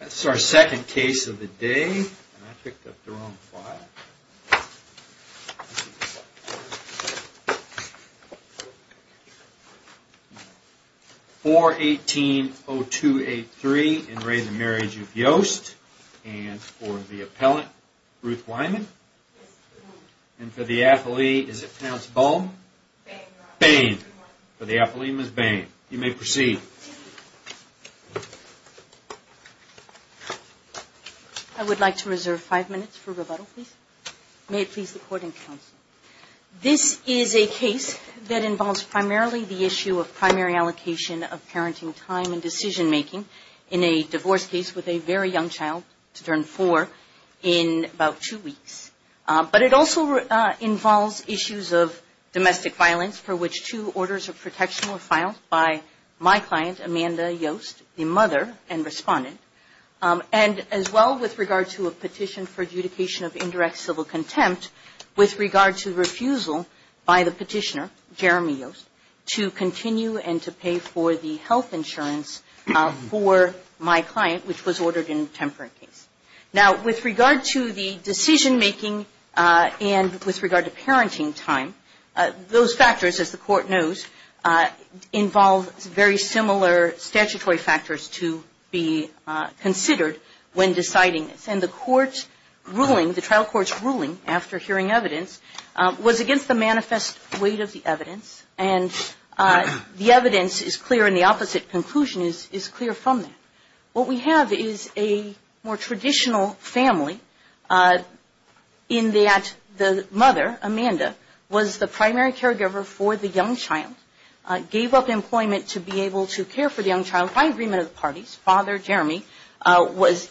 That's our second case of the day. I picked up the wrong file. 4-18-0283 in re The Marriage of Yost. And for the appellant, Ruth Lyman. Yes, sir. And for the athlete, is it pronounced Baum? Bain. Bain. For the athlete, Ms. Bain. You may proceed. I would like to reserve five minutes for rebuttal, please. May it please the Court and Counsel. This is a case that involves primarily the issue of primary allocation of parenting time and decision-making in a divorce case with a very young child to turn four in about two weeks. But it also involves issues of domestic violence for which two orders of protection were filed by my client, Amanda Yost, the mother and respondent, and as well with regard to a petition for adjudication of indirect civil contempt with regard to the refusal by the petitioner, Jeremy Yost, to continue and to pay for the health insurance for my client, which was ordered in a temporary case. Now, with regard to the decision-making and with regard to parenting time, those factors, as the Court knows, involve very similar statutory factors to be considered when deciding this. And the trial court's ruling after hearing evidence was against the manifest weight of the evidence, and the evidence is clear and the opposite conclusion is clear from that. What we have is a more traditional family in that the mother, Amanda, was the primary caregiver for the young child, gave up employment to be able to care for the young child by agreement of the parties. Father, Jeremy,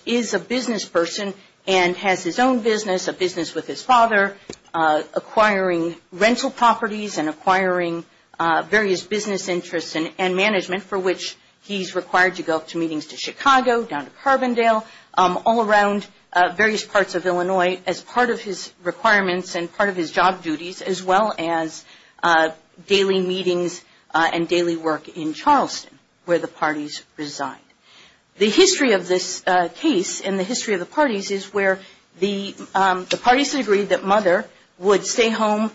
is a business person and has his own business, a business with his father, acquiring rental properties and acquiring various business interests and management for which he's required to go to meetings to Chicago, down to Carbondale, all around various parts of Illinois as part of his requirements and part of his job duties, as well as daily meetings and daily work in Charleston, where the parties reside. The history of this case and the history of the parties is where the parties agreed that mother would stay home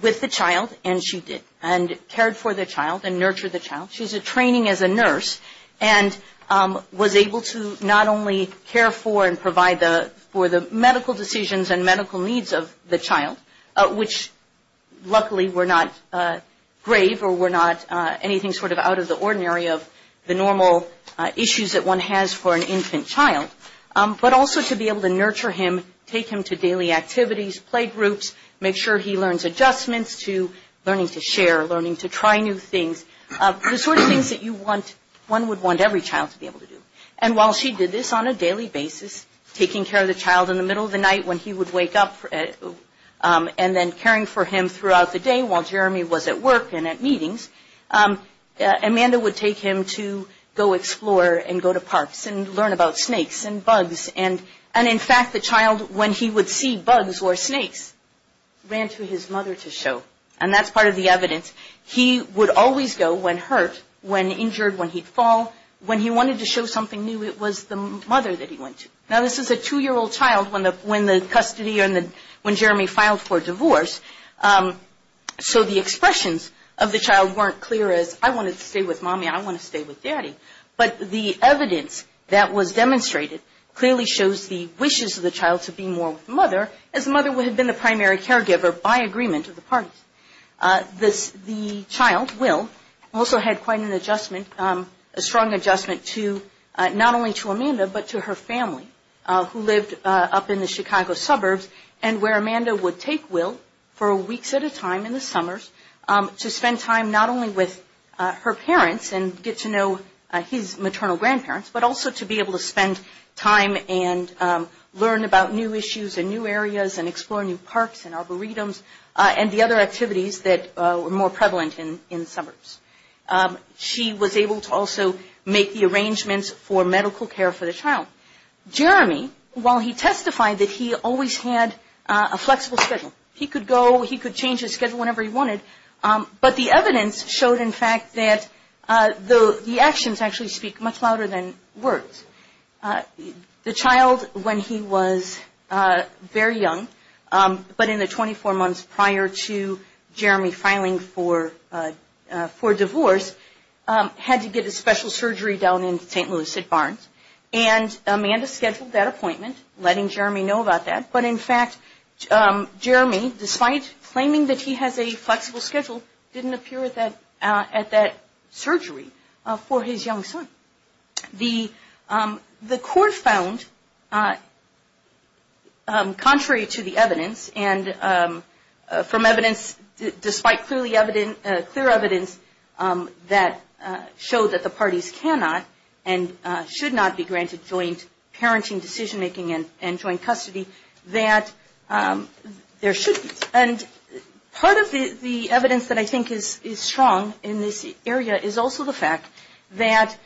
with the child, and she did, and cared for the child and nurtured the child. She was training as a nurse and was able to not only care for and provide for the medical decisions and medical needs of the child, which luckily were not grave or were not anything sort of out of the ordinary of the normal issues that one has for an infant child, but also to be able to nurture him, take him to daily activities, play groups, make sure he learns adjustments to learning to share, learning to try new things, the sort of things that you want, one would want every child to be able to do. And while she did this on a daily basis, taking care of the child in the middle of the night when he would wake up, and then caring for him throughout the day while Jeremy was at work and at meetings, Amanda would take him to go explore and go to parks and learn about snakes and bugs. And in fact, the child, when he would see bugs or snakes, ran to his mother to show. And that's part of the evidence. He would always go when hurt, when injured, when he'd fall. When he wanted to show something new, it was the mother that he went to. Now, this is a two-year-old child when the custody or when Jeremy filed for divorce, so the expressions of the child weren't clear as I want to stay with mommy, I want to stay with daddy. But the evidence that was demonstrated clearly shows the wishes of the child to be more with the mother, as the mother would have been the primary caregiver by agreement of the parties. The child, Will, also had quite an adjustment, a strong adjustment to not only to Amanda, but to her family who lived up in the Chicago suburbs and where Amanda would take Will for weeks at a time in the summers to spend time not only with her parents and get to know his maternal grandparents, but also to be able to spend time and learn about new issues and new areas and explore new parks and arboretums and the other activities that were more prevalent in the suburbs. She was able to also make the arrangements for medical care for the child. Jeremy, while he testified that he always had a flexible schedule, he could go, he could change his schedule whenever he wanted, but the evidence showed, in fact, that the actions actually speak much louder than words. The child, when he was very young, but in the 24 months prior to Jeremy filing for divorce, had to get a special surgery down in St. Louis at Barnes, and Amanda scheduled that appointment, letting Jeremy know about that, but in fact, Jeremy, despite claiming that he has a flexible schedule, didn't appear at that surgery for his young son. The court found, contrary to the evidence, and from evidence, despite clear evidence, that showed that the parties cannot and should not be granted joint parenting, decision-making, and joint custody, that there should be. And part of the evidence that I think is strong in this area is also the fact that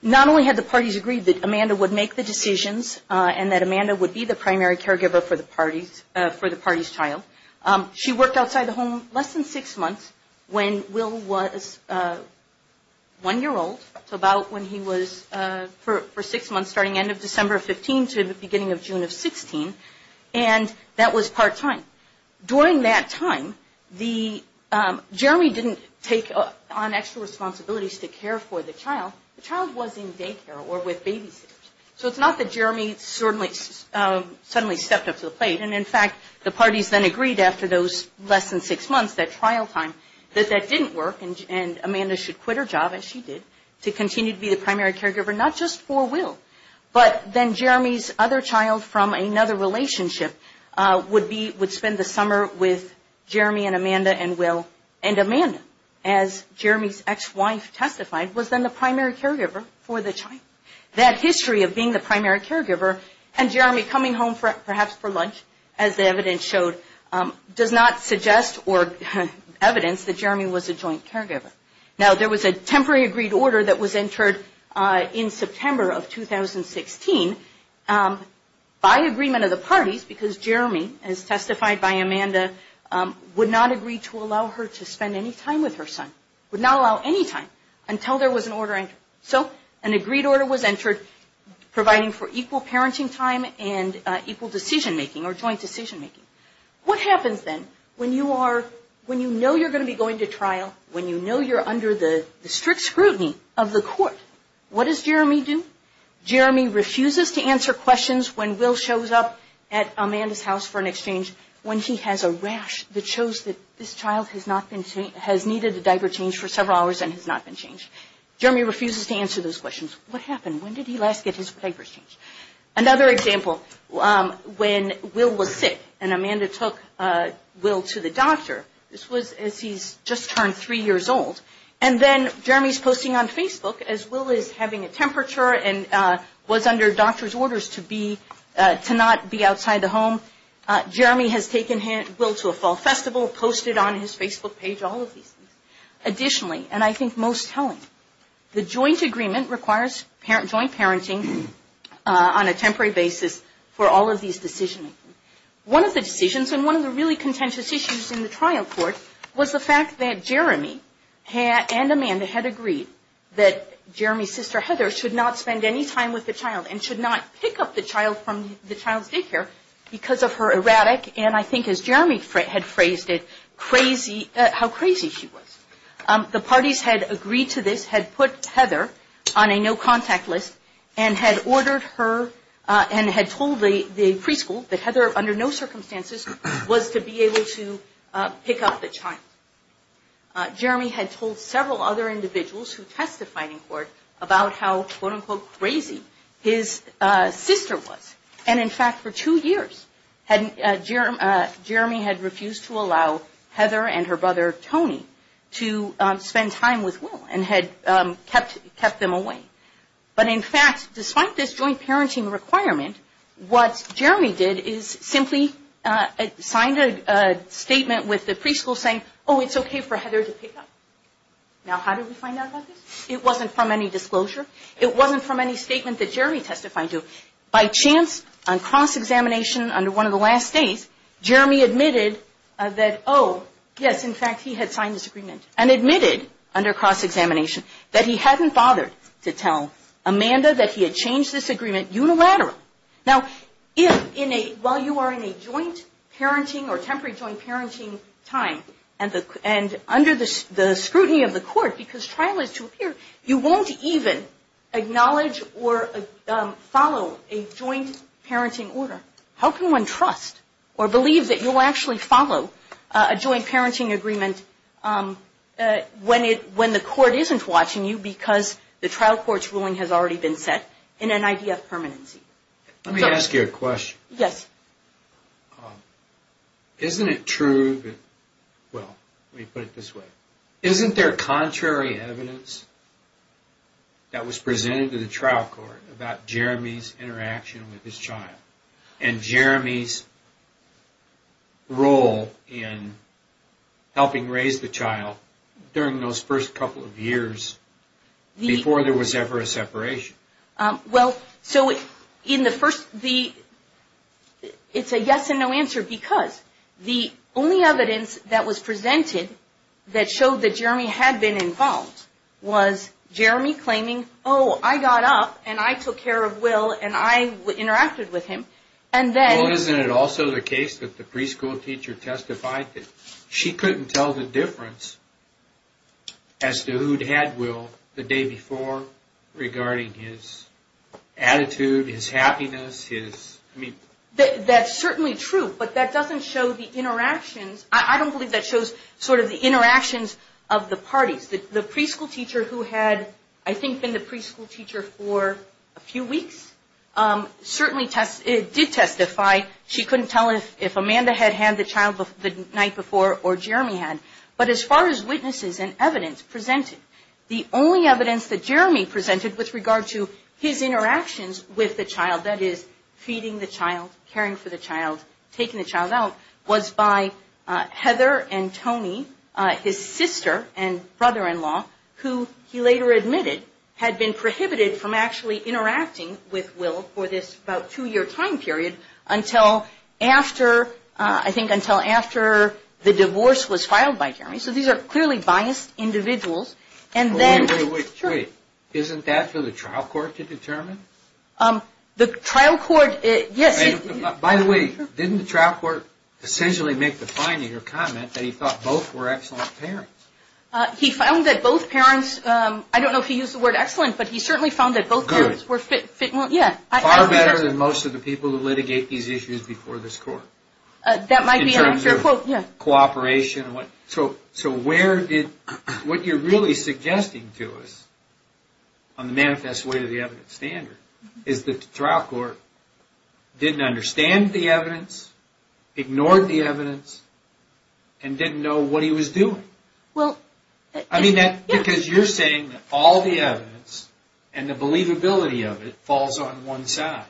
not only had the parties agreed that Amanda would make the decisions and that Amanda would be the primary caregiver for the party's child, she worked outside the home less than six months when Will was one year old, so about when he was, for six months, starting end of December of 15 to the beginning of June of 16, and that was part-time. During that time, Jeremy didn't take on extra responsibilities to care for the child. The child was in daycare or with babysitters, so it's not that Jeremy suddenly stepped up to the plate, and in fact, the parties then agreed after those less than six months, that trial time, that that didn't work, and Amanda should quit her job, as she did, to continue to be the primary caregiver, not just for Will, but then Jeremy's other child from another relationship would spend the summer with Jeremy and Amanda and Will, and Amanda, as Jeremy's ex-wife testified, was then the primary caregiver for the child. That history of being the primary caregiver and Jeremy coming home perhaps for lunch, as the evidence showed, does not suggest or evidence that Jeremy was a joint caregiver. Now, there was a temporary agreed order that was entered in September of 2016 by agreement of the parties, because Jeremy, as testified by Amanda, would not agree to allow her to spend any time with her son, would not allow any time until there was an order entered. So, an agreed order was entered providing for equal parenting time and equal decision-making or joint decision-making. What happens then, when you know you're going to be going to trial, when you know you're under the strict scrutiny of the court, what does Jeremy do? Jeremy refuses to answer questions when Will shows up at Amanda's house for an exchange, when he has a rash that shows that this child has needed a diaper change for several hours and has not been changed. Jeremy refuses to answer those questions. What happened? When did he last get his diaper changed? Another example, when Will was sick and Amanda took Will to the doctor, this was as he's just turned three years old, and then Jeremy's posting on Facebook as Will is having a temperature and was under doctor's orders to be, to not be outside the home. Jeremy has taken Will to a fall festival, posted on his Facebook page all of these things. On a temporary basis for all of these decision-making. One of the decisions, and one of the really contentious issues in the trial court, was the fact that Jeremy and Amanda had agreed that Jeremy's sister Heather should not spend any time with the child, and should not pick up the child from the child's daycare because of her erratic, and I think as Jeremy had phrased it, crazy, how crazy she was. The parties had agreed to this, had put Heather on a no contact list, and had ordered her, and had told the preschool that Heather under no circumstances was to be able to pick up the child. Jeremy had told several other individuals who testified in court about how quote unquote crazy his sister was, and in fact for two years Jeremy had refused to allow Heather and her brother Tony to spend time with Will, and had kept them away. But in fact, despite this joint parenting requirement, what Jeremy did is simply signed a statement with the preschool saying, oh it's okay for Heather to pick up. Now how did we find out about this? It wasn't from any disclosure. It wasn't from any statement that Jeremy testified to. By chance, on cross-examination under one of the last days, Jeremy admitted that oh, yes in fact he had signed this agreement, and admitted under cross-examination that he hadn't bothered to tell Amanda that he had changed this agreement unilaterally. Now while you are in a joint parenting or temporary joint parenting time, and under the scrutiny of the court, because trial is to appear, you won't even acknowledge or follow a joint parenting order. How can one trust or believe that you'll actually follow a joint parenting agreement when the court isn't watching you, because the trial court's ruling has already been set in an idea of permanency? Let me ask you a question. Isn't it true, well let me put it this way, isn't there contrary evidence that was presented to the trial court about Jeremy's interaction with his child and Jeremy's role in helping raise the child during those first couple of years before there was ever a separation? Well, so in the first, it's a yes and no answer because the only evidence that was presented that showed that Jeremy had been involved was Jeremy claiming, oh I got up and I took care of Will and I interacted with him. Well isn't it also the case that the preschool teacher testified that she couldn't tell the difference as to who'd had Will the day before regarding his attitude, his happiness, his... That's certainly true, but that doesn't show the interactions, I don't believe that shows sort of the interactions of the parties. The preschool teacher who had, I think, been the preschool teacher for a few weeks, certainly did testify she couldn't tell if Amanda had had the child the night before or Jeremy had. But as far as witnesses and evidence presented, the only evidence that Jeremy presented with regard to his interactions with the child, that is, feeding the child, caring for the child, taking the child out, was by Heather and Tony, his sister and brother-in-law, who had been the preschool teacher. Who, he later admitted, had been prohibited from actually interacting with Will for this about two-year time period until after, I think until after the divorce was filed by Jeremy. So these are clearly biased individuals and then... Wait, wait, wait, wait. Isn't that for the trial court to determine? By the way, didn't the trial court essentially make the finding or comment that he thought both were excellent parents? He found that both parents, I don't know if he used the word excellent, but he certainly found that both parents were fit... Good. Far better than most of the people who litigate these issues before this court. That might be an unfair quote, yeah. So where did... What you're really suggesting to us on the manifest way of the evidence standard is that the trial court didn't understand the evidence, ignored the evidence, and didn't know what he was doing. I mean, because you're saying that all the evidence and the believability of it falls on one side,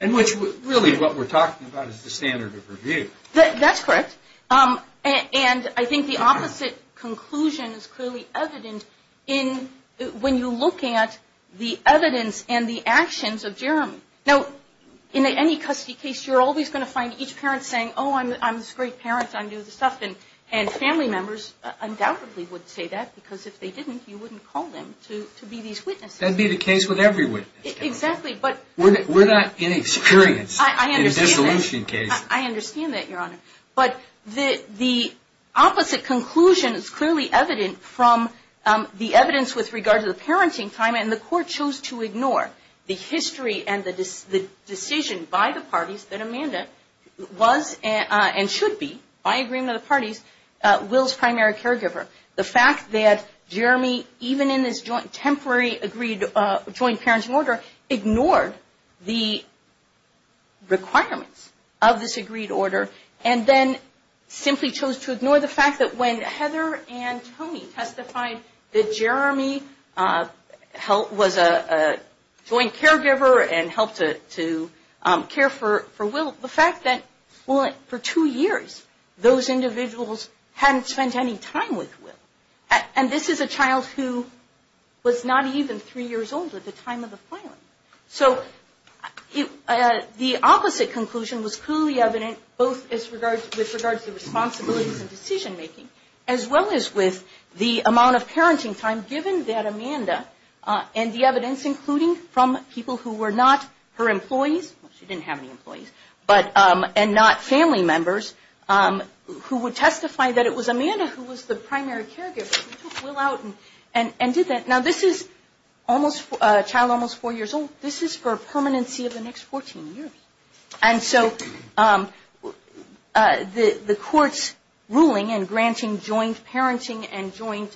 and which really what we're talking about is the standard of review. That's correct. And I think the opposite conclusion is clearly evident when you look at the evidence and the actions of Jeremy. Now, in any custody case, you're always going to find each parent saying, oh, I'm this great parent, I knew this stuff. And family members undoubtedly would say that, because if they didn't, you wouldn't call them to be these witnesses. That would be the case with every witness. We're not inexperienced in dissolution cases. I understand that, Your Honor. But the opposite conclusion is clearly evident from the evidence with regard to the parenting time, and the court chose to ignore the history and the decision by the parties that Amanda was and should be, by agreement of the parties, Will's primary caregiver. The fact that Jeremy, even in this temporary agreed, joint parenting order, ignored the requirements of this agreed order, and then simply chose to ignore the fact that when Heather and Tony testified that Jeremy was a joint caregiver and helped to care for Will, the fact that, well, for two years, those individuals hadn't spent any time with Will. And this is a child who was not even three years old at the time of the filing. So the opposite conclusion was clearly evident, both with regard to the responsibilities and decision-making, as well as with the amount of parenting time given that Amanda, and the evidence including from people who were not her employees, she didn't have any employees, and not family members, who would testify that it was Amanda who was the primary caregiver. She took Will out and did that. Now, this is a child almost four years old. This is for permanency of the next 14 years. And so the court's ruling in granting joint parenting and joint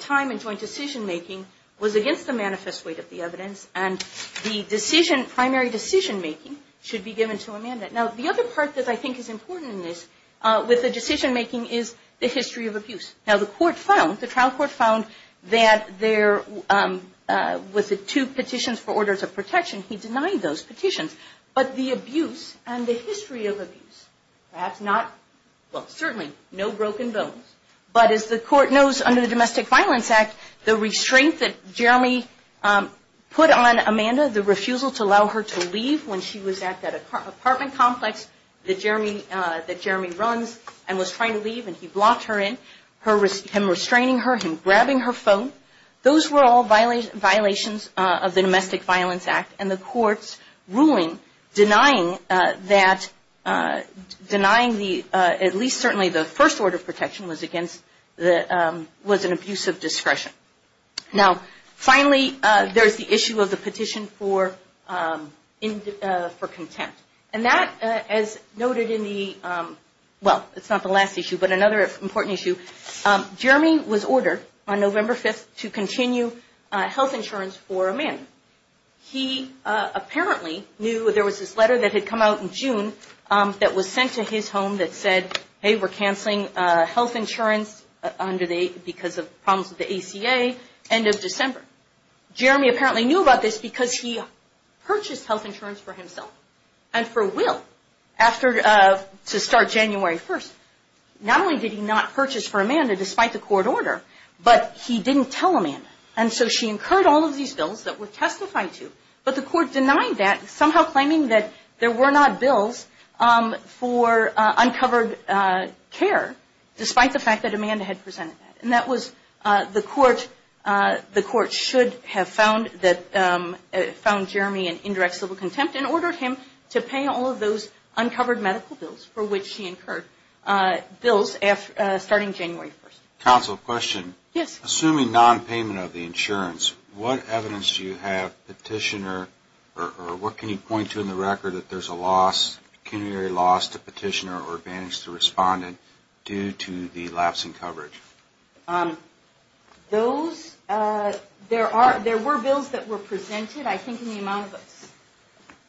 time and joint decision-making was against the manifest weight of the evidence, and the primary decision-making should be given to Amanda. Now, the other part that I think is important in this, with the decision-making, is the history of abuse. Now, the trial court found that there was two petitions for orders of protection. He denied those petitions. But the abuse and the history of abuse, perhaps not, well, certainly, no broken bones, but as the court knows under the Domestic Violence Act, the restraint that Jeremy put on Amanda, the refusal to allow her to leave when she was at that apartment complex, was the apartment complex that Jeremy runs and was trying to leave and he blocked her in, him restraining her, him grabbing her phone, those were all violations of the Domestic Violence Act and the court's ruling denying that, at least certainly the first order of protection was an abuse of discretion. Now, finally, there's the issue of the petition for contempt. And that, as noted in the, well, it's not the last issue, but another important issue, Jeremy was ordered on November 5th to continue health insurance for Amanda. He apparently knew there was this letter that had come out in June that was sent to his home that said, hey, we're canceling health insurance because of problems with the ACA, end of December. Jeremy apparently knew about this because he purchased health insurance for himself and for Will to start January 1st. Not only did he not purchase for Amanda, despite the court order, but he didn't tell Amanda. And so she incurred all of these bills that were testified to, but the court denied that, somehow claiming that there were not bills for uncovered care, despite the fact that Amanda had presented that. And that was, the court should have found Jeremy an indirect civil contempt and ordered him to pay all of those uncovered medical bills for which he incurred bills starting January 1st. Counsel, question. Assuming nonpayment of the insurance, what evidence do you have, petitioner, or what can you point to in the record that there's a loss, pecuniary loss to petitioner or advantage to respondent due to the lapsing coverage? Those, there were bills that were presented, I think in the amount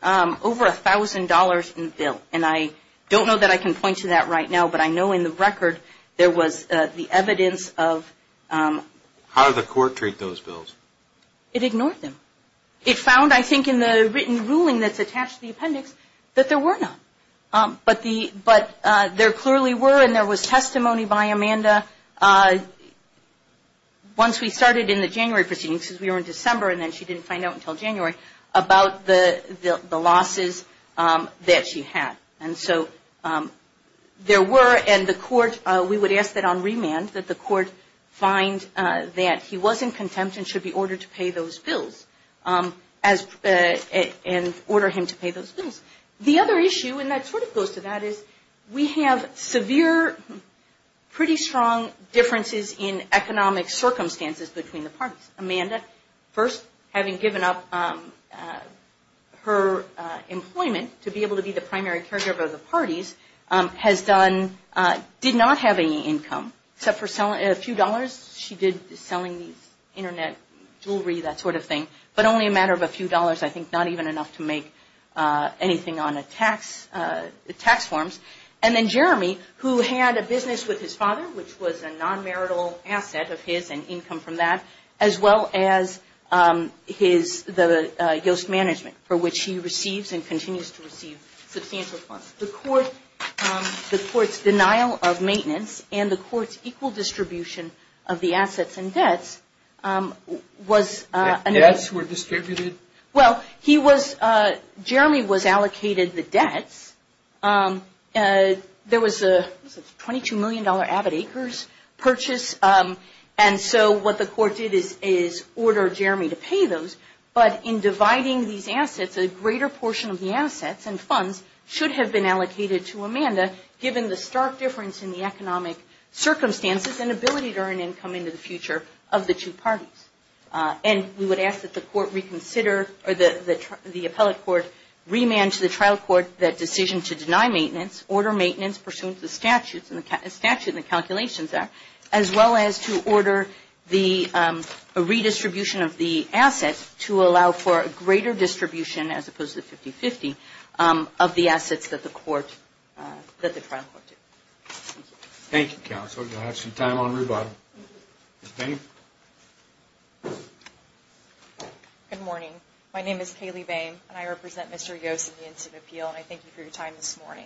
of over $1,000 in the bill. And I don't know that I can point to that right now, but I know in the record there was the evidence of How did the court treat those bills? It ignored them. It found, I think, in the written ruling that's attached to the appendix, that there were not. But there clearly were, and there was testimony by Amanda, once we started in the January proceedings, because we were in December and then she didn't find out until January, about the losses that she had. And so there were, and the court, we would ask that on remand that the court find that he was in contempt and should be ordered to pay those bills and order him to pay those bills. The other issue, and that sort of goes to that, is we have severe, pretty strong differences in economic circumstances between the parties. Amanda, first, having given up her employment to be able to be the primary caregiver of the parties, has done, did not have any income, except for a few dollars. She did selling these internet jewelry, that sort of thing, but only a matter of a few dollars, I think, not even enough to make anything on a tax, tax forms. And then Jeremy, who had a business with his father, which was a non-marital asset of his and income from that, as well as his, the Yoast management, for which he receives and continues to receive substantial funds. The court, the court's denial of maintenance and the court's equal distribution of the assets and debts was. Debts were distributed? Well, he was, Jeremy was allocated the debts. There was a $22 million avid acres purchase, and so what the court did is order Jeremy to pay those, but in dividing these assets, a greater portion of the assets and funds should have been allocated to Amanda, given the stark difference in the economic circumstances and ability to earn income into the future of the two parties. And we would ask that the court reconsider, or the appellate court remand to the trial court that decision to deny maintenance, order maintenance pursuant to the statutes and the statutes and the calculations there, as well as to order the redistribution of the assets to allow for a greater distribution, as opposed to 50-50, of the assets that the court, that the trial court did. Thank you, counsel. You'll have some time on rebuttal. Ms. Boehm. Good morning. My name is Kaylee Boehm, and I represent Mr. Yoast in the incident appeal, and I thank you for your time this morning.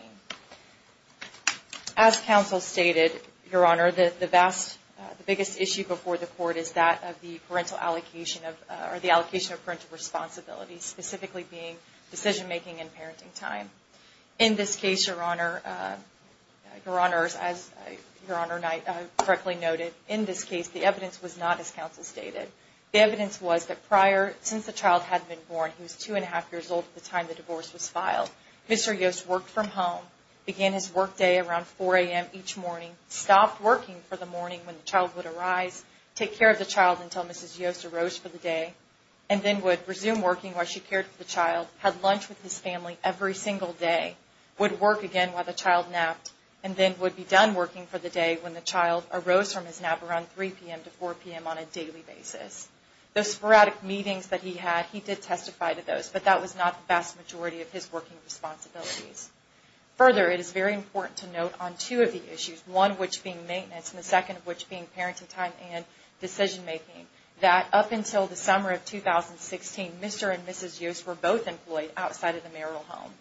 As counsel stated, Your Honor, the vast, the biggest issue before the court is that of the parental allocation of, or the allocation of parental responsibilities, specifically being decision-making and parenting time. In this case, Your Honor, Your Honors, as Your Honor correctly noted, in this case, the evidence was not as counsel stated. The evidence was that prior, since the child had been born, he was two and a half years old at the time the divorce was filed. Mr. Yoast worked from home, began his work day around 4 a.m. each morning, stopped working for the morning when the child would arise, take care of the child until Mrs. Yoast arose for the day, and then would resume working while she cared for the child, had lunch with his family every single day, would work again while the child napped, and then would be done working for the day when the child arose from his nap around 3 p.m. to 4 p.m. on a daily basis. Those sporadic meetings that he had, he did testify to those, but that was not the vast majority of his working responsibilities. Further, it is very important to note on two of the issues, one of which being maintenance, and the second of which being parenting time and decision-making, that up until the summer of 2016, Mr. and Mrs. Yoast were both employed outside of the marital home.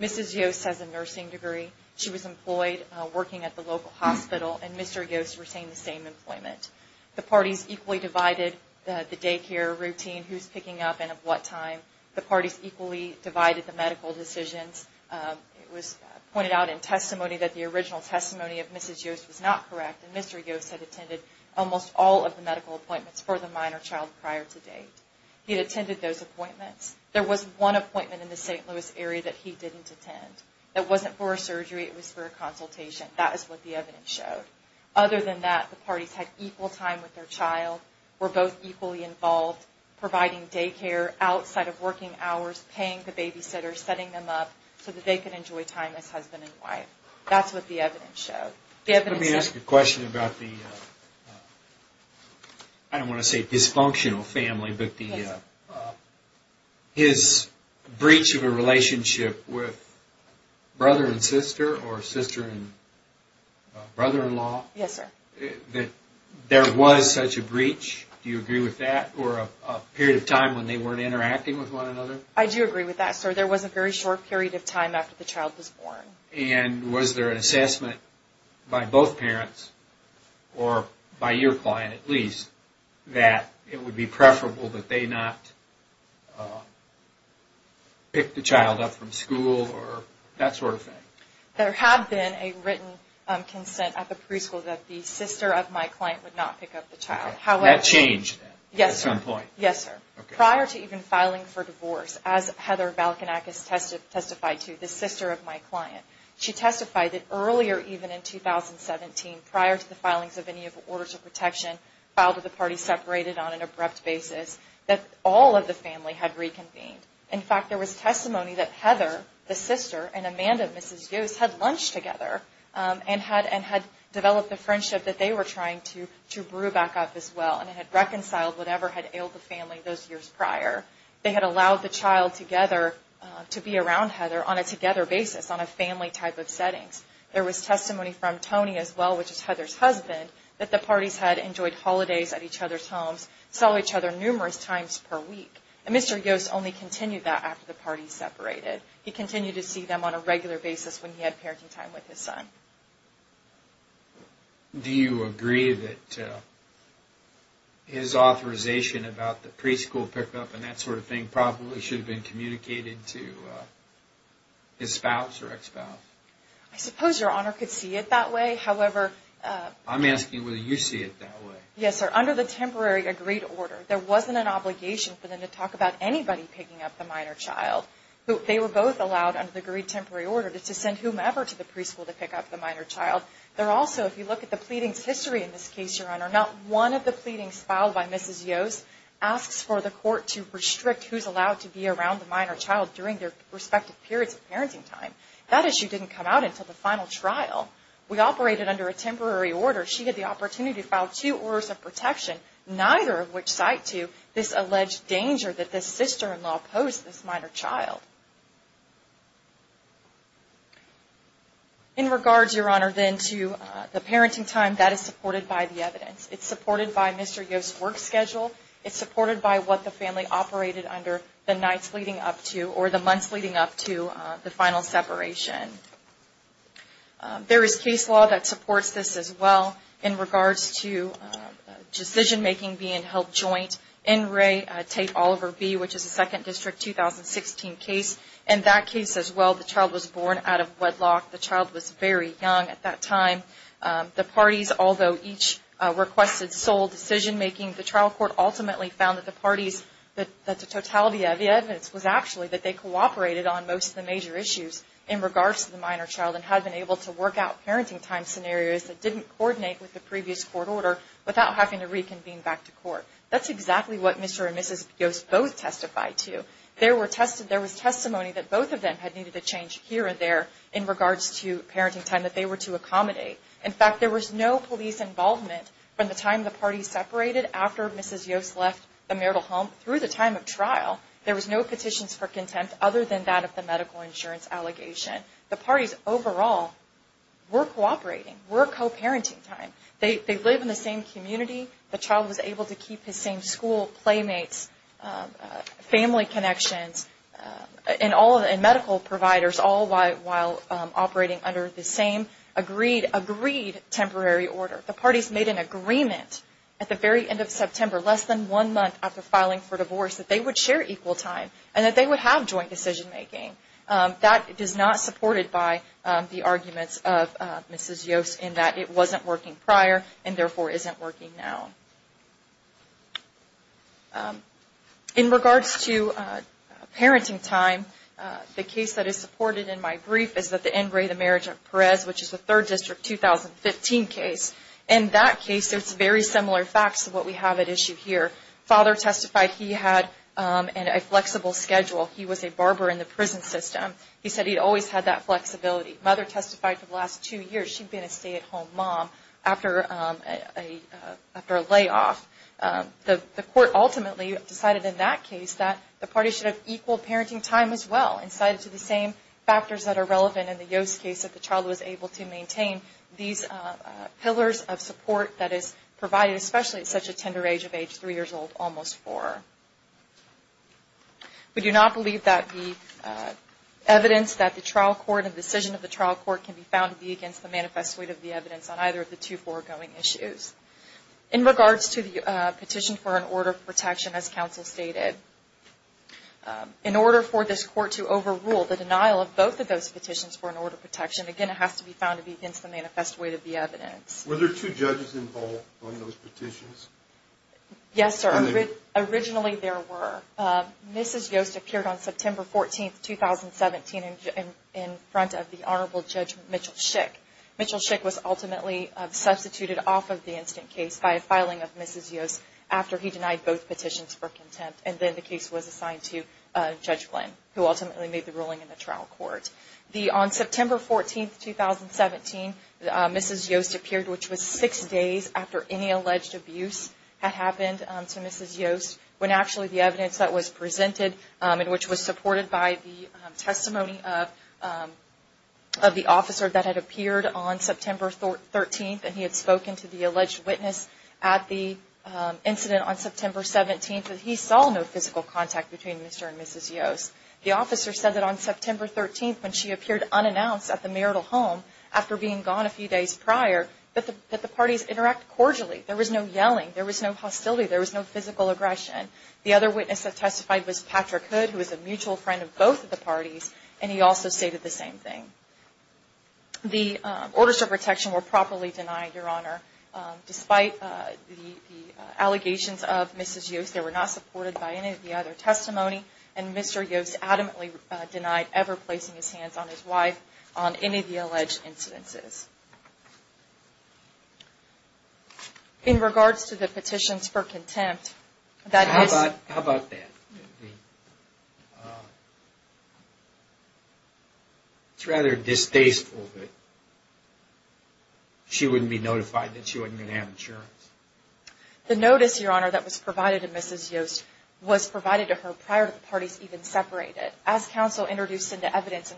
Mrs. Yoast has a nursing degree. She was employed working at the local hospital, and Mr. Yoast retained the same employment. The parties equally divided the daycare routine, who's picking up and at what time. The parties equally divided the medical decisions. It was pointed out in testimony that the original testimony of Mrs. Yoast was not correct, and Mr. Yoast had attended almost all of the medical appointments for the minor child prior to date. He had attended those appointments. There was one appointment in the St. Louis area that he didn't attend. It wasn't for a surgery, it was for a consultation. That is what the evidence showed. Other than that, the parties had equal time with their child, were both equally involved, providing daycare outside of working hours, paying the babysitter, setting them up so that they could enjoy time as husband and wife. That's what the evidence showed. Let me ask a question about the, I don't want to say dysfunctional family, but his breach of a relationship with brother and sister or sister and brother-in-law. Yes, sir. There was such a breach. Do you agree with that? Or a period of time when they weren't interacting with one another? I do agree with that, sir. There was a very short period of time after the child was born. And was there an assessment by both parents, or by your client at least, that it would be preferable that they not pick the child up from school or that sort of thing? There had been a written consent at the preschool that the sister of my client would not pick up the child. That changed at some point? Yes, sir. Prior to even filing for divorce, as Heather Valkenakis testified to, the sister of my client, she testified that earlier even in 2017, prior to the filings of any orders of protection, filed with the parties separated on an abrupt basis, that all of the family had reconvened. In fact, there was testimony that Heather, the sister, and Amanda, Mrs. Yost, had lunch together and had developed a friendship that they were trying to brew back up as well. And it had reconciled whatever had ailed the family those years prior. They had allowed the child to be around Heather on a together basis, on a family type of setting. There was testimony from Tony as well, which is Heather's husband, that the parties had enjoyed holidays at each other's homes, saw each other numerous times per week. And Mr. Yost only continued that after the parties separated. He continued to see them on a regular basis when he had parenting time with his son. Do you agree that his authorization about the preschool pickup and that sort of thing probably should have been communicated to his spouse or ex-spouse? I suppose Your Honor could see it that way. However... I'm asking whether you see it that way. Yes, sir. Under the temporary agreed order, there wasn't an obligation for them to talk about anybody picking up the minor child. They were both allowed under the agreed temporary order to send whomever to the preschool to pick up the minor child. There also, if you look at the pleadings history in this case, Your Honor, not one of the pleadings filed by Mrs. Yost asks for the court to restrict who's allowed to be around the minor child during their respective periods of parenting time. That issue didn't come out until the final trial. We operated under a temporary order. She had the opportunity to file two orders of protection, neither of which cite to this alleged danger that this sister-in-law posed to this minor child. In regards, Your Honor, then to the parenting time, that is supported by the evidence. It's supported by Mr. Yost's work schedule. It's supported by what the family operated under the nights leading up to or the months leading up to the final separation. There is case law that supports this as well in regards to decision-making being held joint. In Ray, Tate, Oliver B., which is a 2nd District 2016 case, in that case as well, the child was born out of wedlock. The child was very young at that time. The parties, although each requested sole decision-making, the trial court ultimately found that the parties, that the totality of the evidence was actually that they cooperated on most of the major issues. In regards to the minor child and had been able to work out parenting time scenarios that didn't coordinate with the previous court order without having to reconvene back to court. That's exactly what Mr. and Mrs. Yost both testified to. There was testimony that both of them had needed a change here or there in regards to parenting time that they were to accommodate. In fact, there was no police involvement from the time the parties separated after Mrs. Yost left the marital home through the time of trial. There was no petitions for contempt other than that of the medical insurance allegation. The parties overall were cooperating, were co-parenting time. They lived in the same community. The child was able to keep his same school, playmates, family connections, and medical providers all while operating under the same agreed temporary order. The parties made an agreement at the very end of September, less than one month after filing for divorce, that they would share equal time and that they would have joint decision-making. That is not supported by the arguments of Mrs. Yost in that it wasn't working prior and therefore isn't working now. In regards to parenting time, the case that is supported in my brief is the Engray to Marriage of Perez, which is a 3rd District 2015 case. In that case, it's very similar facts to what we have at issue here. Father testified he had a flexible schedule. He was a barber in the prison system. He said he always had that flexibility. Mother testified for the last two years she'd been a stay-at-home mom after a layoff. The court ultimately decided in that case that the parties should have equal parenting time as well and cited to the same factors that are relevant in the Yost case that the child was able to maintain these pillars of support that is provided, especially at such a tender age of age 3 years old, almost 4. We do not believe that the evidence that the trial court and decision of the trial court can be found to be against the manifest weight of the evidence on either of the two foregoing issues. In regards to the petition for an order of protection, as counsel stated, in order for this court to overrule the denial of both of those petitions for an order of protection, again, it has to be found to be against the manifest weight of the evidence. Were there two judges involved on those petitions? Yes, sir. Originally, there were. Mrs. Yost appeared on September 14, 2017 in front of the Honorable Judge Mitchell Schick. Mitchell Schick was ultimately substituted off of the instant case by a filing of Mrs. Yost after he denied both petitions for contempt, and then the case was assigned to Judge Glenn, who ultimately made the ruling in the trial court. On September 14, 2017, Mrs. Yost appeared, which was six days after any alleged abuse had happened to Mrs. Yost, when actually the evidence that was presented and which was supported by the testimony of the officer that had appeared on September 13th and he had spoken to the alleged witness at the incident on September 17th, he saw no physical contact between Mr. and Mrs. Yost. The officer said that on September 13th, when she appeared unannounced at the marital home after being gone a few days prior, that the parties interacted cordially. There was no yelling. There was no hostility. There was no physical aggression. The other witness that testified was Patrick Hood, who was a mutual friend of both of the parties, and he also stated the same thing. The orders of protection were properly denied, Your Honor, despite the allegations of Mrs. Yost. They were not supported by any of the other testimony, and Mr. Yost adamantly denied ever placing his hands on his wife on any of the alleged incidences. In regards to the petitions for contempt, that is... How about that? It's rather distasteful that she wouldn't be notified that she wasn't going to have insurance. The notice, Your Honor, that was provided to Mrs. Yost was provided to her prior to the parties even separating. As counsel introduced into evidence,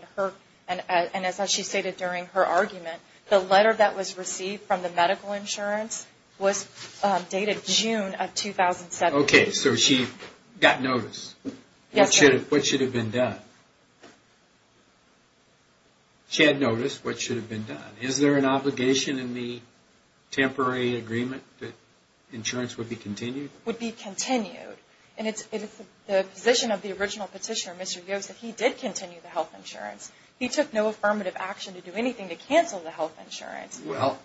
and as she stated during her argument, the letter that was received from the medical insurance was dated June of 2007. Okay, so she got notice. Yes, sir. What should have been done? She had notice. What should have been done? Is there an obligation in the temporary agreement that insurance would be continued? Would be continued. And it's the position of the original petitioner, Mr. Yost, that he did continue the health insurance. He took no affirmative action to do anything to cancel the health insurance. Well,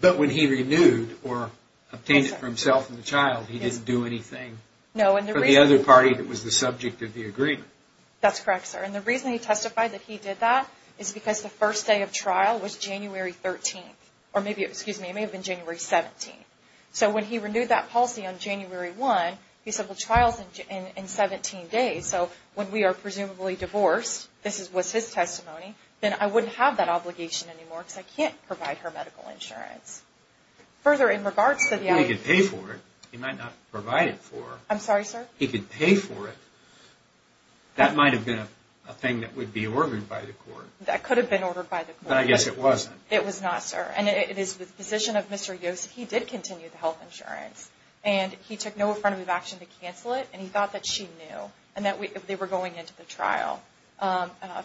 but when he renewed or obtained it for himself and the child, he didn't do anything for the other party that was the subject of the agreement. That's correct, sir. And the reason he testified that he did that is because the first day of trial was January 13th. Or maybe, excuse me, it may have been January 17th. So when he renewed that policy on January 1, he said, well, trial's in 17 days. So when we are presumably divorced, this was his testimony, then I wouldn't have that obligation anymore because I can't provide her medical insurance. Further, in regards to the other... He could pay for it. He might not provide it for her. I'm sorry, sir? He could pay for it. That might have been a thing that would be ordered by the court. That could have been ordered by the court. But I guess it wasn't. It was not, sir. And it is the position of Mr. Yost, he did continue the health insurance. And he took no affirmative action to cancel it. And he thought that she knew and that they were going into the trial.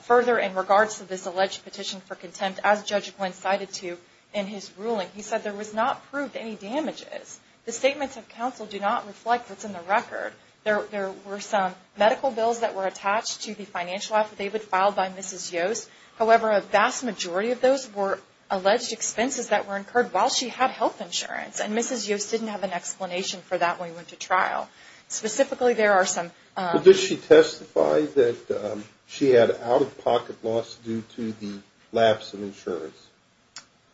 Further, in regards to this alleged petition for contempt, as Judge Glynn cited to you in his ruling, he said there was not proved any damages. The statements of counsel do not reflect what's in the record. There were some medical bills that were attached to the financial affidavit filed by Mrs. Yost. However, a vast majority of those were alleged expenses that were incurred while she had health insurance. And Mrs. Yost didn't have an explanation for that when we went to trial. Specifically, there are some... Did she testify that she had out-of-pocket loss due to the lapse of insurance?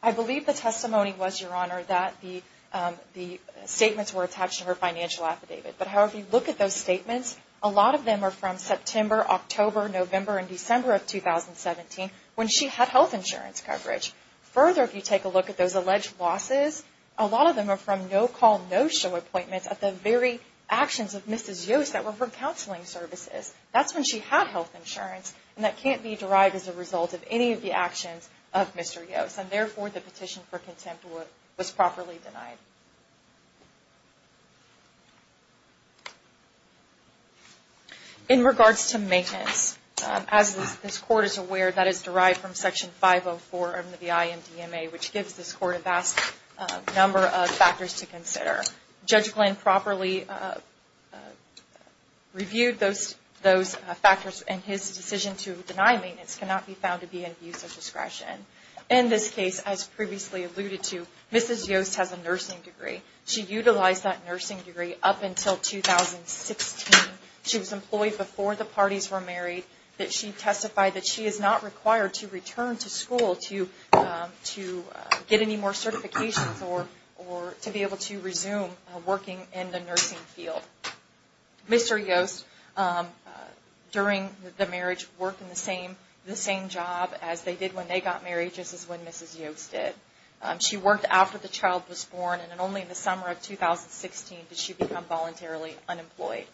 I believe the testimony was, Your Honor, that the statements were attached to her financial affidavit. But however you look at those statements, a lot of them are from September, October, November, and December of 2017 when she had health insurance coverage. Further, if you take a look at those alleged losses, a lot of them are from no-call, no-show appointments at the very actions of Mrs. Yost that were for counseling services. That's when she had health insurance. And that can't be derived as a result of any of the actions of Mr. Yost. And therefore, the petition for contempt was properly denied. In regards to maintenance, as this Court is aware, that is derived from Section 504 of the IMDMA, which gives this Court a vast number of factors to consider. Judge Glenn properly reviewed those factors, and his decision to deny maintenance cannot be found to be an abuse of discretion. In this case, as previously alluded to, Mrs. Yost has a nursing degree. She utilized that nursing degree up until 2016. She was employed before the parties were married. She testified that she is not required to return to school to get any more certifications or to be able to resume working in the nursing field. Mr. Yost, during the marriage, worked in the same job as they did when they got married, just as when Mrs. Yost did. She worked after the child was born, and only in the summer of 2016 did she become voluntarily unemployed.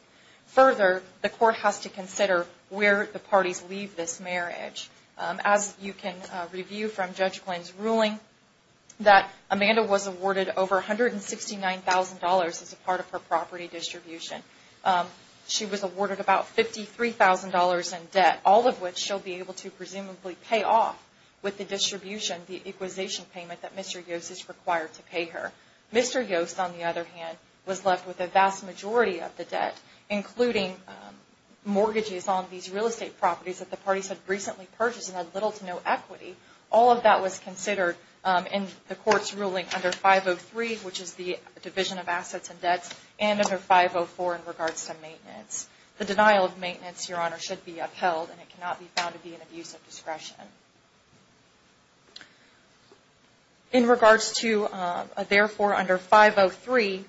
Further, the Court has to consider where the parties leave this marriage. As you can review from Judge Glenn's ruling, that Amanda was awarded over $169,000 as a part of her property distribution. She was awarded about $53,000 in debt, all of which she'll be able to presumably pay off with the distribution, the equalization payment, that Mr. Yost is required to pay her. Mr. Yost, on the other hand, was left with a vast majority of the debt, including mortgages on these real estate properties that the parties had recently purchased and had little to no equity. All of that was considered in the Court's ruling under 503, which is the Division of Assets and Debts, and under 504 in regards to maintenance. The denial of maintenance, Your Honor, should be upheld, and it cannot be found to be an abuse of discretion. In regards to, therefore, under 503,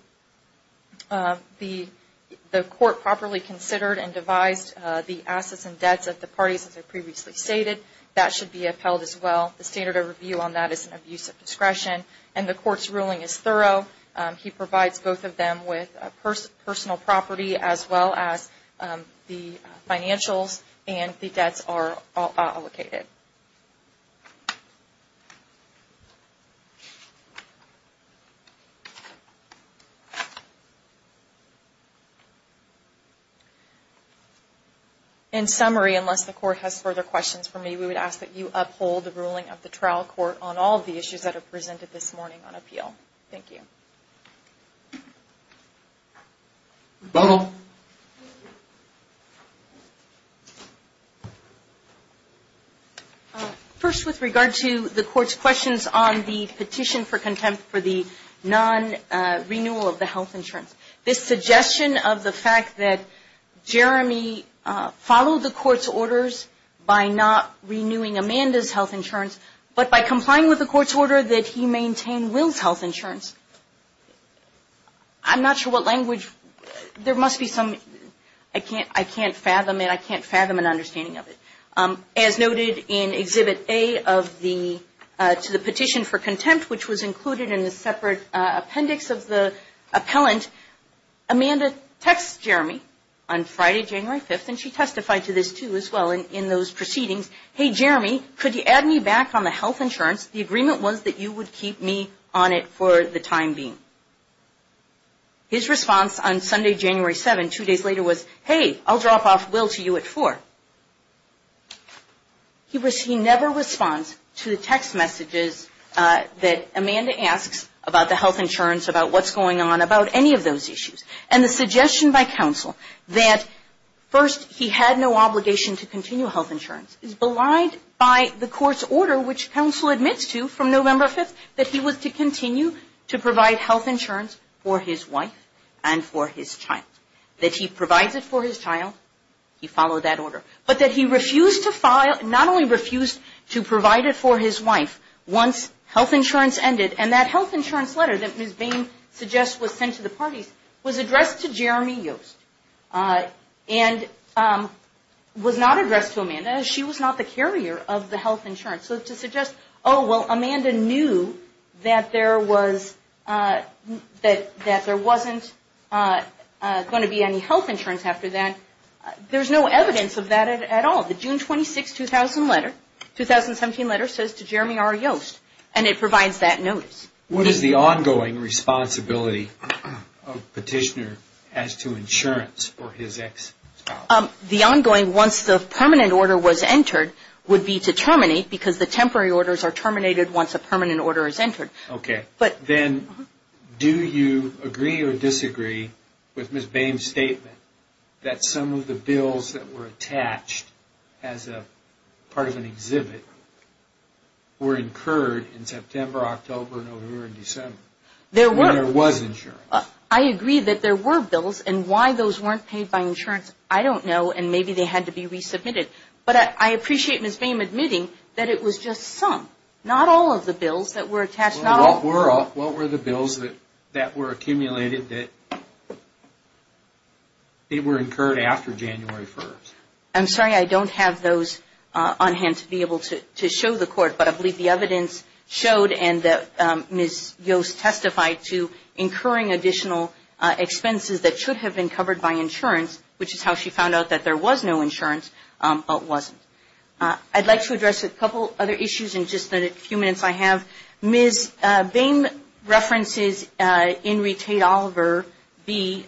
the Court properly considered and devised the assets and debts of the parties as I previously stated. That should be upheld as well. The standard of review on that is an abuse of discretion, and the Court's ruling is thorough. He provides both of them with personal property as well as the financials and the debts are all allocated. In summary, unless the Court has further questions for me, we would ask that you uphold the ruling of the trial court on all of the issues that are presented this morning on appeal. Thank you. First, with regard to the Court's questions on the petition for contempt for the non-renewal of the health insurance, this suggestion of the fact that Jeremy followed the Court's orders by not renewing Amanda's health insurance, but by complying with the Court's order that he maintain Will's health insurance, I'm not sure what language, there must be some, I can't, I can't fathom it, I can't fathom an understanding of it. As noted in Exhibit A of the, to the petition for contempt, which was included in the separate appendix of the appellant, Amanda texts Jeremy on Friday, January 5th, and she testified to this too as well in those proceedings, hey, Jeremy, could you add me back on the health insurance? The agreement was that you would keep me on it for the time being. His response on Sunday, January 7th, two days later, was, hey, I'll drop off Will to you at 4. He never responds to the text messages that Amanda asks about the health insurance, about what's going on, about any of those issues. And the suggestion by counsel that first he had no obligation to continue health insurance is belied by the Court's order, which counsel admits to from November 5th, that he was to continue to provide health insurance for his wife and for his child. That he provides it for his child, he followed that order. But that he refused to file, not only refused to provide it for his wife once health insurance ended, and that health insurance letter that Ms. Bain suggests was sent to the parties was addressed to Jeremy Yost, and was not addressed to Amanda as she was not the carrier of the health insurance. So to suggest, oh, well, Amanda knew that there wasn't going to be any health insurance after that, there's no evidence of that at all. The June 26, 2000 letter, 2017 letter, says to Jeremy R. Yost, and it provides that notice. What is the ongoing responsibility of petitioner as to insurance for his ex-spouse? The ongoing, once the permanent order was entered, would be to terminate because the temporary orders are terminated once a permanent order is entered. Okay. Then do you agree or disagree with Ms. Bain's statement that some of the bills that were attached as part of an exhibit were incurred in September, October, November, and December? There were. And there was insurance. I agree that there were bills, and why those weren't paid by insurance, I don't know, and maybe they had to be resubmitted. But I appreciate Ms. Bain admitting that it was just some. Not all of the bills that were attached. What were the bills that were accumulated that were incurred after January 1st? I'm sorry, I don't have those on hand to be able to show the court, but I believe the evidence showed and that Ms. Yost testified to incurring additional expenses that should have been covered by insurance, which is how she found out that there was no insurance, but wasn't. I'd like to address a couple other issues in just the few minutes I have. Ms. Bain references Enrique Oliver, the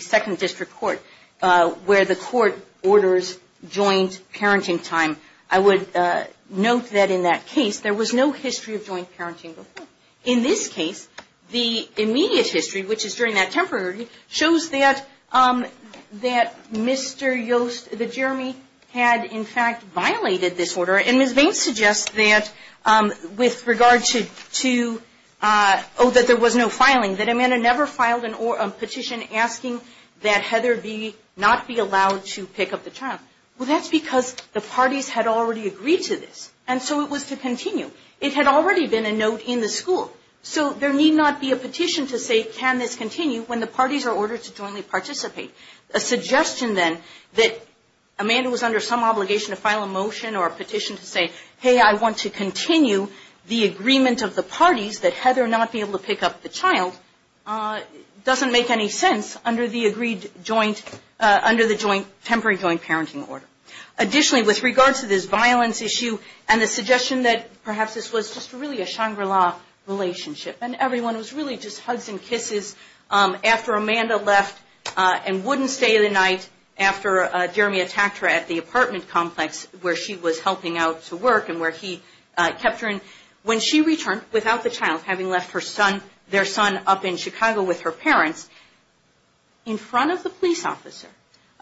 second district court, where the court orders joint parenting time. I would note that in that case, there was no history of joint parenting before. In this case, the immediate history, which is during that temporary, shows that Mr. Yost, that Jeremy, had in fact violated this order. And Ms. Bain suggests that with regard to, oh, that there was no filing, that Amanda never filed a petition asking that Heather not be allowed to pick up the child. Well, that's because the parties had already agreed to this, and so it was to continue. It had already been a note in the school. So there need not be a petition to say, can this continue, when the parties are ordered to jointly participate. A suggestion then that Amanda was under some obligation to file a motion or a petition to say, hey, I want to continue the agreement of the parties that Heather not be able to pick up the child doesn't make any sense under the agreed joint, under the temporary joint parenting order. Additionally, with regard to this violence issue and the suggestion that perhaps this was just really a Shangri-La relationship, and everyone was really just hugs and kisses after Amanda left and wouldn't stay the night after Jeremy attacked her at the apartment complex, where she was helping out to work and where he kept her. When she returned without the child, having left her son, their son, up in Chicago with her parents, in front of the police officer,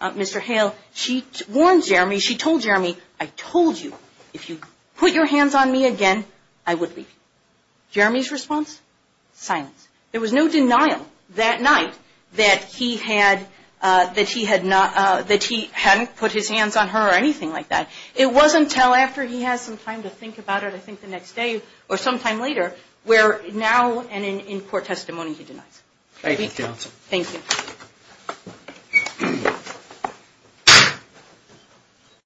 Mr. Hale, she warned Jeremy, she told Jeremy, I told you, if you put your hands on me again, I would leave you. Jeremy's response? Silence. There was no denial that night that he hadn't put his hands on her or anything like that. It wasn't until after he had some time to think about it, I think the next day or sometime later, where now and in court testimony he denies it. Thank you, counsel. Thank you.